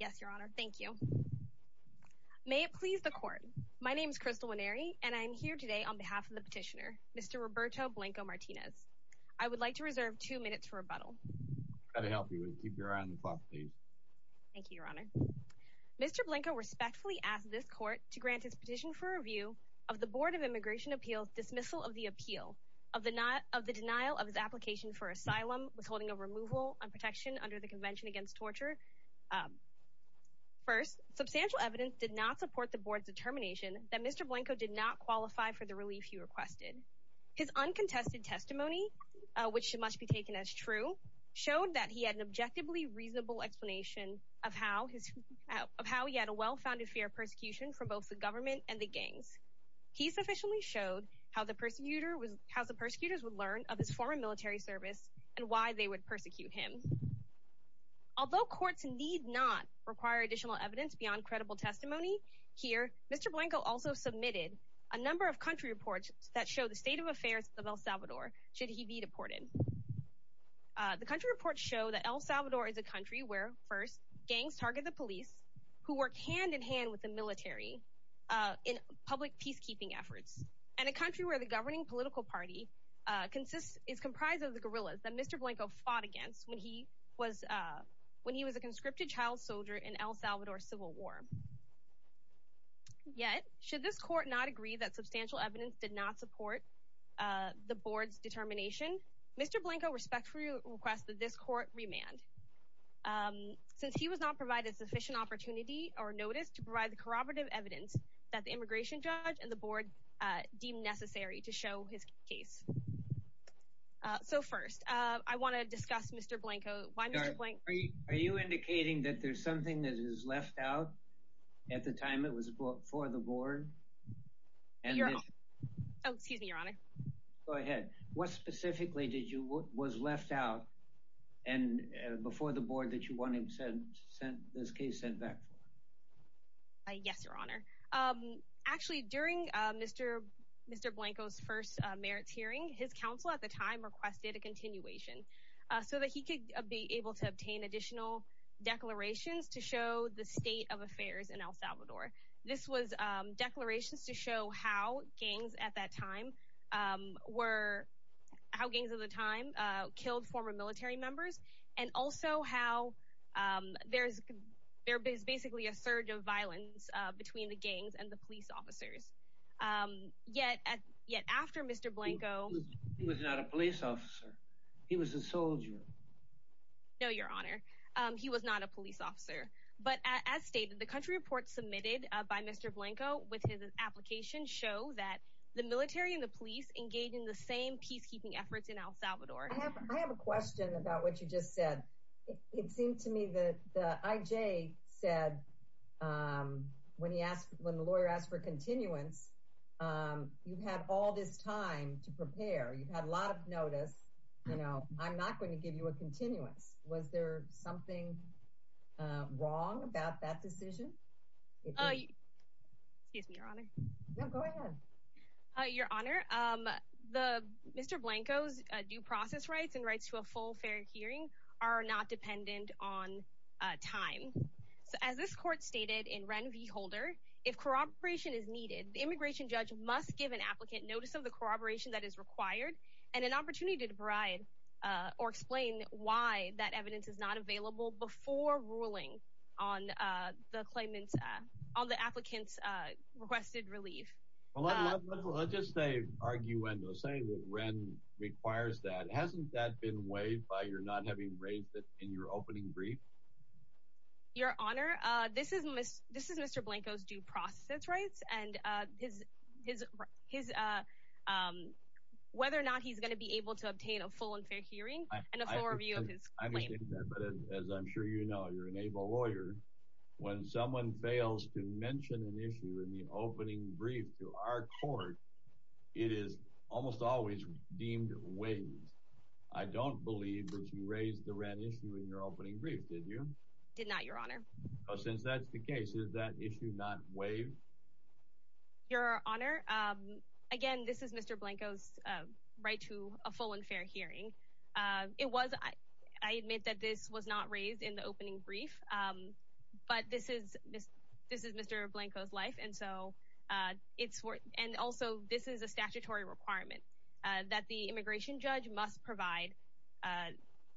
Yes, Your Honor. Thank you. May it please the Court. My name is Crystal Winery, and I am here today on behalf of the petitioner, Mr. Roberto Blanco-Martinez. I would like to reserve two minutes for rebuttal. I'll try to help you. Keep your eye on the clock, please. Thank you, Your Honor. Mr. Blanco respectfully asked this Court to grant his petition for review of the Board of Immigration Appeals' dismissal of the appeal of the denial of his application for asylum withholding a removal and protection under the Convention Against Torture. First, substantial evidence did not support the Board's determination that Mr. Blanco did not qualify for the relief he requested. His uncontested testimony, which must be taken as true, showed that he had an objectively reasonable explanation of how he had a well-founded fear of persecution from both the government and the gangs. He sufficiently showed how the persecutors would of his former military service and why they would persecute him. Although courts need not require additional evidence beyond credible testimony, here, Mr. Blanco also submitted a number of country reports that show the state of affairs of El Salvador should he be deported. The country reports show that El Salvador is a country where, first, gangs target the police, who work hand-in-hand with the military in public peacekeeping efforts, and a country where the governing political party is comprised of the guerrillas that Mr. Blanco fought against when he was a conscripted child soldier in El Salvador's civil war. Yet, should this court not agree that substantial evidence did not support the Board's determination, Mr. Blanco respectfully requests that this court remand since he was not provided sufficient opportunity or notice to provide the corroborative evidence that the immigration judge and the Board deemed necessary to show his case. So, first, I want to discuss Mr. Blanco. Why Mr. Blanco? Are you indicating that there's something that is left out at the time it was brought for the Board? Oh, excuse me, Your Honor. Go ahead. What specifically was left out before the Board that you want this case sent back for? Yes, Your Honor. Actually, during Mr. Blanco's first merits hearing, his counsel at the time requested a continuation so that he could be able to obtain additional declarations to show the state of affairs in El Salvador. This was declarations to show how gangs at that time were, how gangs of the time killed former military members and also how there's basically a surge of violence between the gangs and the police officers. Yet, after Mr. Blanco... He was not a police officer. He was a soldier. No, Your Honor. He was not a police officer. But as stated, the country report submitted by Mr. Blanco with his application show that the military and the police engage in the same peacekeeping efforts in El Salvador. I have a question about what you just said. It seemed to me that the IJ said when he asked, when the lawyer asked for continuance, you've had all this time to prepare. You've had a lot of notice. You know, I'm not going to give you a continuance. Was there something wrong about that decision? Oh, excuse me, Your Honor. No, go ahead. Your Honor, Mr. Blanco's due process rights and rights to a full fair hearing are not dependent on time. So, as this court stated in Ren v. Holder, if corroboration is needed, the immigration judge must give an applicant notice of the corroboration that is required and an opportunity to bribe or explain why that evidence is not available before ruling on the claimant's, on the applicant's requested relief. Well, let's just say, arguendo, say that Ren requires that. Hasn't that been weighed by your not having raised it in your opening brief? Your Honor, this is Mr. Blanco's due process rights and whether or not he's going to be able to obtain a full and fair hearing and a full review of his claim. I understand that, but as I'm sure you know, you're an able lawyer. When someone fails to mention an issue in the opening brief to our court, it is almost always deemed waived. I don't believe that you raised the Ren issue in your opening brief, did you? Did not, Your Honor. Well, since that's the case, is that issue not waived? Your Honor, again, this is Mr. Blanco's right to a full and fair hearing. It was, I admit that this was not raised in the opening brief, but this is Mr. Blanco's life. And so, it's worth, and also, this is a statutory requirement that the immigration judge must provide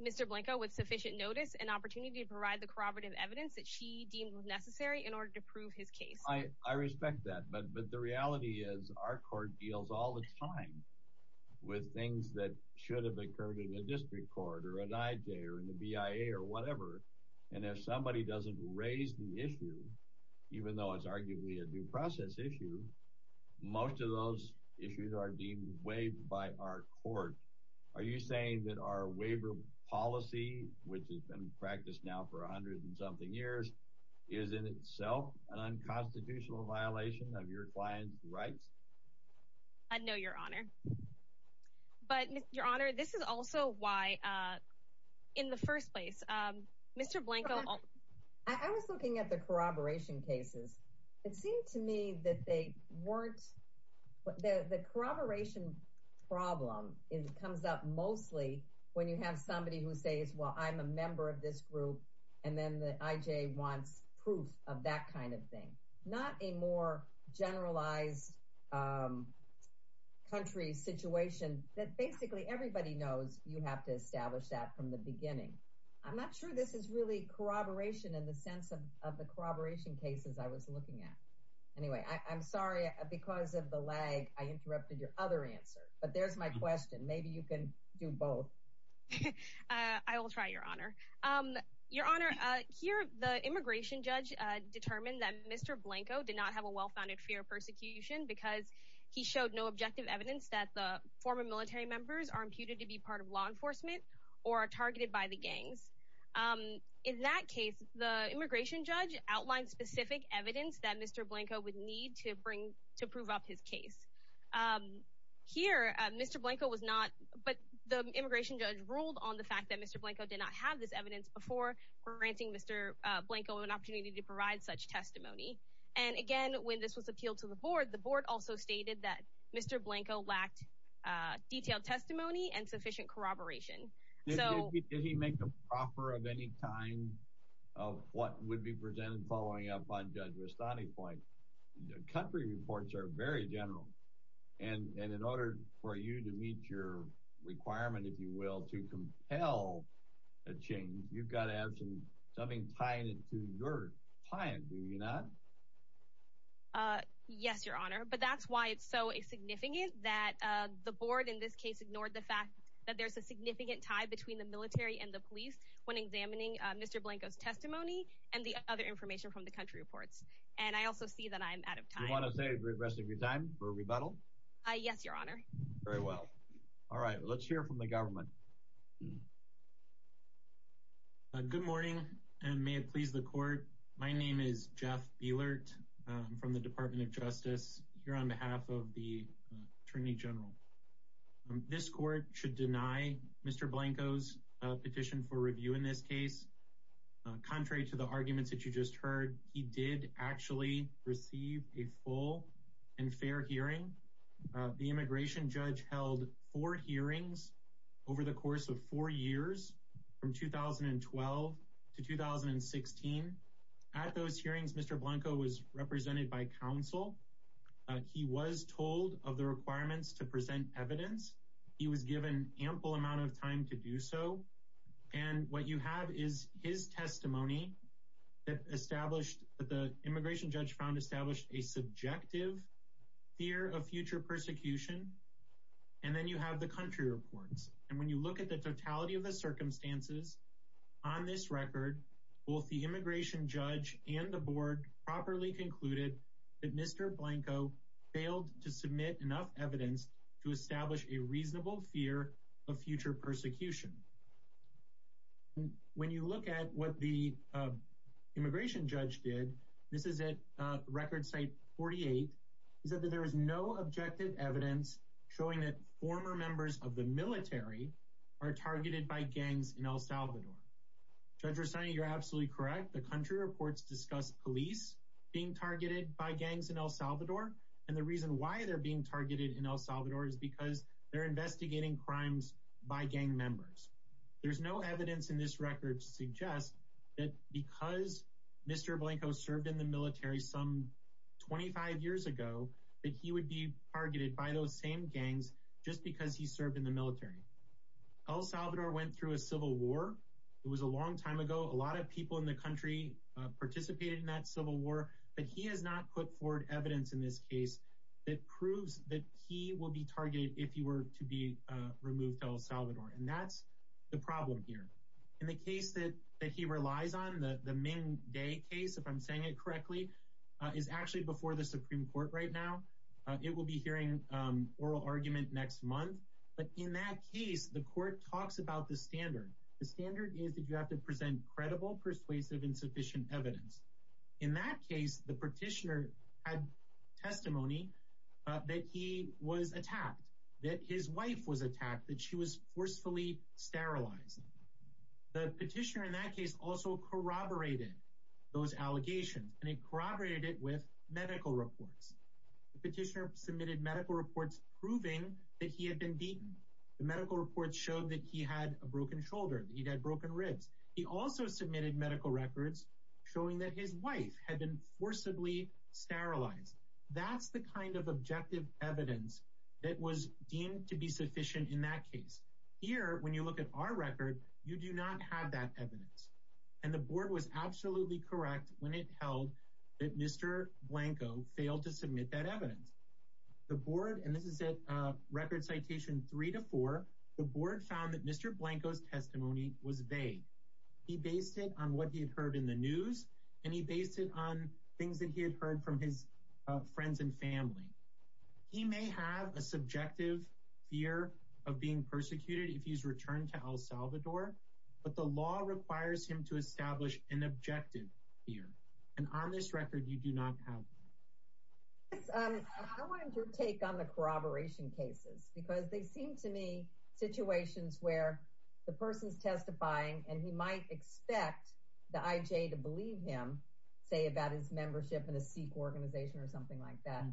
Mr. Blanco with sufficient notice and opportunity to provide the corroborative evidence that she deems necessary in order to prove his case. I respect that, but the reality is our court deals all the time with things that should have occurred in a district court or an IJ or in the BIA or whatever. And if somebody doesn't raise the issue, even though it's arguably a due process issue, most of those issues are deemed waived by our court. Are you saying that our waiver policy, which has been practiced now for a hundred and fifty years, is in itself an unconstitutional violation of your client's rights? I know, Your Honor. But, Your Honor, this is also why, in the first place, Mr. Blanco... I was looking at the corroboration cases. It seemed to me that they weren't, the corroboration problem comes up mostly when you have somebody who says, well, I'm a member of this group, and then the IJ wants proof of that kind of thing. Not a more generalized country situation that basically everybody knows you have to establish that from the beginning. I'm not sure this is really corroboration in the sense of the corroboration cases I was looking at. Anyway, I'm sorry, because of the lag, I interrupted your other answer. But there's my question. Maybe you can do both. I will try, Your Honor. Your Honor, here, the immigration judge determined that Mr. Blanco did not have a well-founded fear of persecution because he showed no objective evidence that the former military members are imputed to be part of law enforcement or are targeted by the gangs. In that case, the immigration judge outlined specific evidence that Mr. Blanco would need to prove up his case. Here, Mr. Blanco was not... But the immigration judge ruled on the fact that Mr. Blanco did not have this evidence before granting Mr. Blanco an opportunity to provide such testimony. And again, when this was appealed to the board, the board also stated that Mr. Blanco lacked detailed testimony and sufficient corroboration. Did he make a proffer of any kind of what would be presented following up on Judge Vestani's point? Country reports are very general. And in order for you to meet your requirement, if you will, to compel a change, you've got to have something tied to your client, do you not? Yes, Your Honor. But that's why it's so significant that the board, in this case, ignored the fact that there's a significant tie between the military and the police when examining Mr. Blanco's testimony and the other information from the country reports. And I also see that I'm out of time. You want to save the rest of your time for a rebuttal? Yes, Your Honor. Very well. All right. Let's hear from the government. Good morning, and may it please the court. My name is Jeff Bielert from the Department of Justice here on behalf of the Attorney General. This court should deny Mr. Blanco's petition for review in this case. Contrary to the arguments that you just heard, he did actually receive a full and fair hearing. The immigration judge held four hearings over the course of four years, from 2012 to 2016. At those hearings, Mr. Blanco was represented by counsel. He was told of the requirements to present evidence. He was given ample amount of time to do so. And what you have is his testimony that the immigration judge found established a subjective fear of future persecution. And then you have the country reports. And when you look at the totality of the circumstances on this record, both the immigration judge and the board properly concluded that Mr. Blanco failed to submit enough evidence to establish a reasonable fear of future persecution. When you look at what the immigration judge did, this is at record site 48, he said that there is no objective evidence showing that former members of the military are targeted by gangs in El Salvador. Judge Rossani, you're absolutely correct. The country reports discussed police being targeted by gangs in El Salvador. And the reason why they're being targeted in El Salvador is because they're investigating crimes by gang members. So there's no evidence in this record to suggest that because Mr. Blanco served in the military some 25 years ago, that he would be targeted by those same gangs just because he served in the military. El Salvador went through a civil war. It was a long time ago. A lot of people in the country participated in that civil war. But he has not put forward evidence in this case that proves that he will be targeted if he were to be removed to El Salvador. And that's the problem here. In the case that he relies on, the Ming Day case, if I'm saying it correctly, is actually before the Supreme Court right now. It will be hearing oral argument next month. But in that case, the court talks about the standard. The standard is that you have to present credible, persuasive, and sufficient evidence. In that case, the petitioner had testimony that he was attacked, that his wife was attacked, that she was forcefully sterilized. The petitioner in that case also corroborated those allegations, and he corroborated it with medical reports. The petitioner submitted medical reports proving that he had been beaten. The medical reports showed that he had a broken shoulder, that he had broken ribs. He also submitted medical records showing that his wife had been forcibly sterilized. That's the kind of objective evidence that was deemed to be sufficient in that case. Here, when you look at our record, you do not have that evidence. And the board was absolutely correct when it held that Mr. Blanco failed to found that Mr. Blanco's testimony was vague. He based it on what he had heard in the news, and he based it on things that he had heard from his friends and family. He may have a subjective fear of being persecuted if he's returned to El Salvador, but the law requires him to establish an objective fear. And on this record, you do not have that. I wanted your take on the where the person's testifying, and he might expect the IJ to believe him, say, about his membership in a Sikh organization or something like that.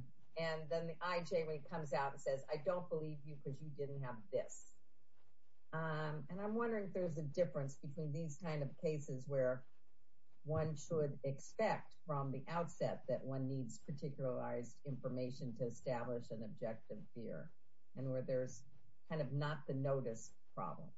And then the IJ comes out and says, I don't believe you because you didn't have this. And I'm wondering if there's a difference between these kind of cases where one should expect from the outset that one needs particularized information to establish an objective fear and where there's kind of not the notice problem.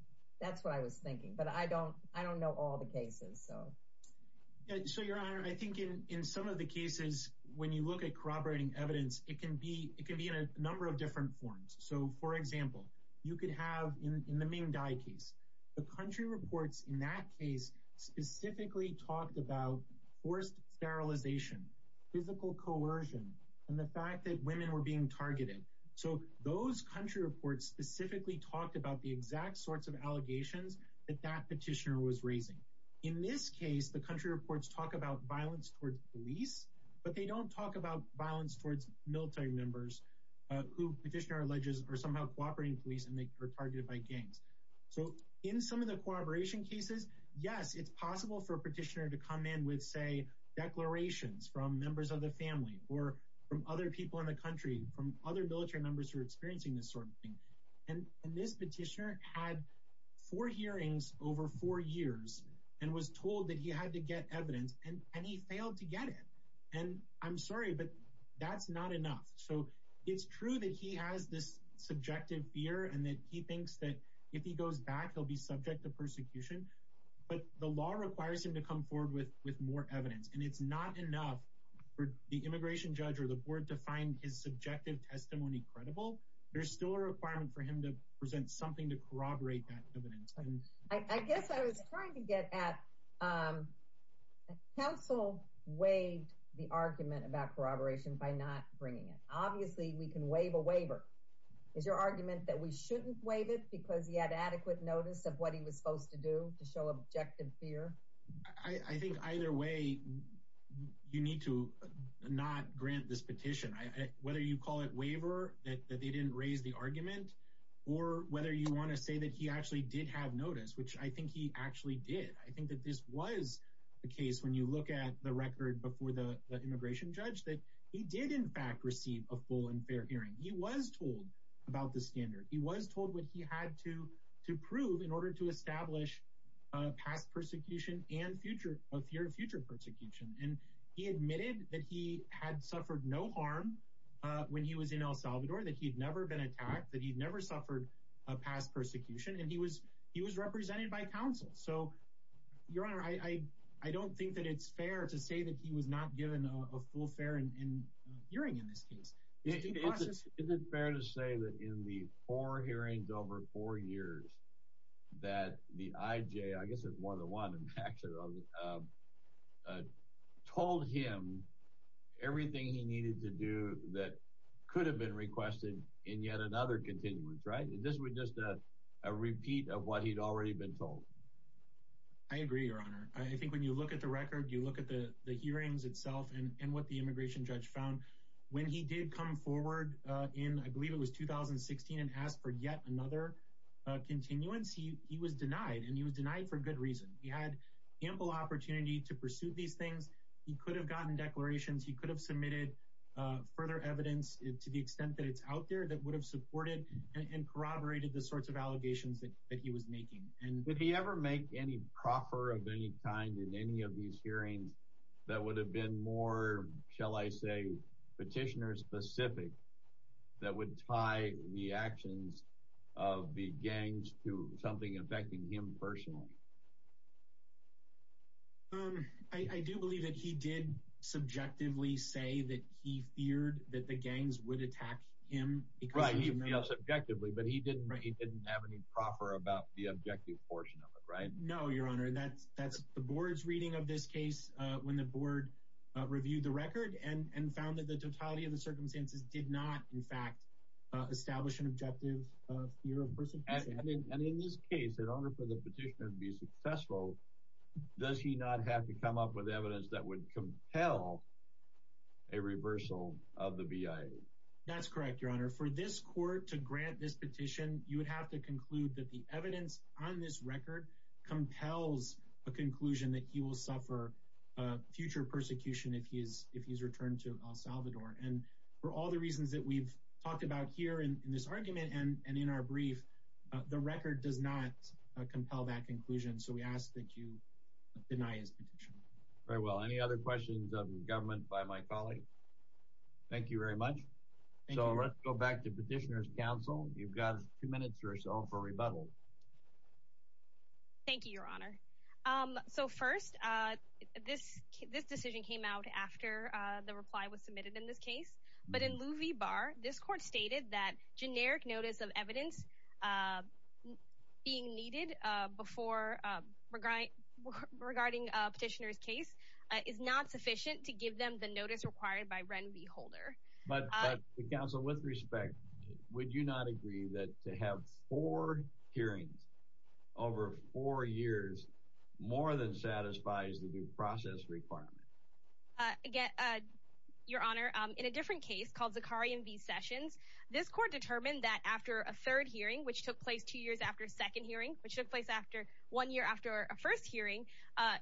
That's what I was thinking, but I don't know all the cases. So, Your Honor, I think in some of the cases, when you look at corroborating evidence, it can be in a number of different forms. So, for example, you could have in the Ming Dai case, the country reports in that case specifically talked about forced sterilization, physical coercion, and the fact that women were being targeted. So those country reports specifically talked about the exact sorts of allegations that that petitioner was raising. In this case, the country reports talk about violence towards police, but they don't talk about violence towards military members who petitioner alleges are somehow cooperating police and they are targeted by gangs. So in some of the corroboration cases, yes, it's possible for a petitioner to come in with, say, declarations from members of the family or from other people in the country from other military members who are experiencing this sort of thing. And this petitioner had four hearings over four years and was told that he had to get evidence and he failed to get it. And I'm sorry, but that's not enough. So it's true that he has this subjective fear and that he thinks that if he goes back, he'll be subject to persecution. But the law requires him to come with more evidence. And it's not enough for the immigration judge or the board to find his subjective testimony credible. There's still a requirement for him to present something to corroborate that evidence. And I guess I was trying to get at council waived the argument about corroboration by not bringing it. Obviously, we can waive a waiver. Is your argument that we shouldn't waive it because he had adequate notice of what he was supposed to do to show objective fear? I think either way, you need to not grant this petition, whether you call it waiver, that they didn't raise the argument, or whether you want to say that he actually did have notice, which I think he actually did. I think that this was the case when you look at the record before the immigration judge that he did, in fact, receive a full and fair hearing. He was told about the standard. He was told what he had to prove in order to establish past persecution and future of your future persecution. And he admitted that he had suffered no harm when he was in El Salvador, that he'd never been attacked, that he'd never suffered a past persecution. And he was he was represented by counsel. So your honor, I don't think that it's fair to say that he was not given a full fair and hearing in this case. Is it fair to say that in the four hearings over four years, that the IJ I guess it's one of the one and actually told him everything he needed to do that could have been requested in yet another continuance, right? This was just a repeat of what he'd already been told. I agree, your honor. I think when you look at the record, you look at the hearings itself and what the immigration judge found when he did come forward in, I believe it was 2016 and asked for yet another continuance. He was denied and he was denied for good reason. He had ample opportunity to pursue these things. He could have gotten declarations. He could have submitted further evidence to the extent that it's out there that would have supported and corroborated the sorts of allegations that he was making. And would he ever make any proffer of any kind in any of these shall I say petitioner specific that would tie the actions of the gangs to something affecting him personally? I do believe that he did subjectively say that he feared that the gangs would attack him because he felt subjectively, but he didn't he didn't have any proffer about the objective portion of it, right? No, your honor. That's that's the board's reading of this case. When the board reviewed the record and found that the totality of the circumstances did not, in fact, establish an objective fear of persecution. And in this case, in order for the petitioner to be successful, does he not have to come up with evidence that would compel a reversal of the BIA? That's correct, your honor. For this court to grant this petition, you would have to conclude that the evidence on this record compels a conclusion that he will suffer future persecution if he is if he's returned to El Salvador. And for all the reasons that we've talked about here in this argument and in our brief, the record does not compel that conclusion. So we ask that you deny his petition. Very well. Any other questions of government by my colleague? Thank you very much. So let's go back to petitioner's counsel. You've this this decision came out after the reply was submitted in this case, but in Louie Bar, this court stated that generic notice of evidence being needed before regarding petitioner's case is not sufficient to give them the notice required by Renvy Holder. But the council, with respect, would you not agree that to have four hearings over four years more than satisfies the due process requirement? Again, your honor, in a different case called Zakarian v. Sessions, this court determined that after a third hearing, which took place two years after a second hearing, which took place after one year after a first hearing,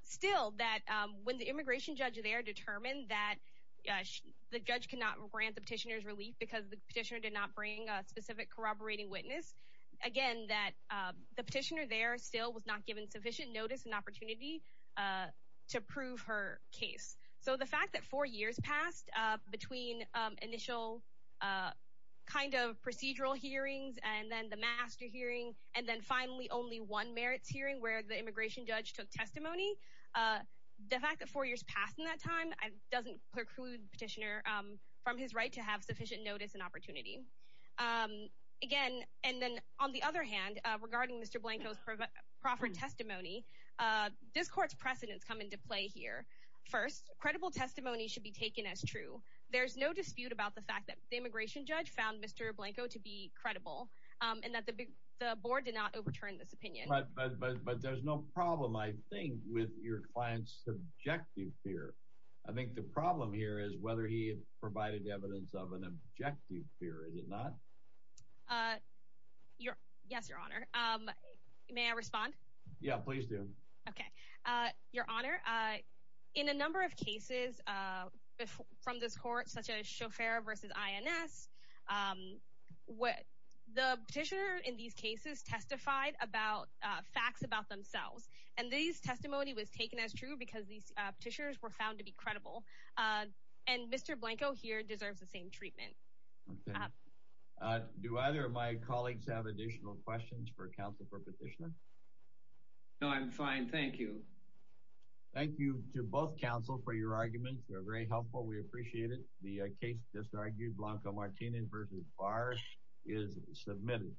still that when the immigration judge there determined that the judge could not grant the petitioner's relief because the petitioner did not bring a specific corroborating witness, again, that the petitioner still was not given sufficient notice and opportunity to prove her case. So the fact that four years passed between initial kind of procedural hearings and then the master hearing, and then finally only one merits hearing where the immigration judge took testimony, the fact that four years passed in that time doesn't preclude petitioner from his right to have sufficient notice and opportunity. Again, and then on the other hand, regarding Mr. Blanco's proffered testimony, this court's precedents come into play here. First, credible testimony should be taken as true. There's no dispute about the fact that the immigration judge found Mr. Blanco to be credible and that the board did not overturn this opinion. But there's no problem, I think, with your client's subjective fear. I think the problem here is whether he provided evidence of an objective fear, is it not? Yes, your honor. May I respond? Yeah, please do. Okay. Your honor, in a number of cases from this court, such as Schoffer versus INS, the petitioner in these cases testified about facts about themselves. And these testimony was taken as true because these petitioners were found to be credible. And Mr. Blanco here deserves the same treatment. Okay. Do either of my colleagues have additional questions for counsel for petitioner? No, I'm fine. Thank you. Thank you to both counsel for your arguments. They're very helpful. We appreciate it. The case just argued, Blanco-Martinez versus Barr is submitted.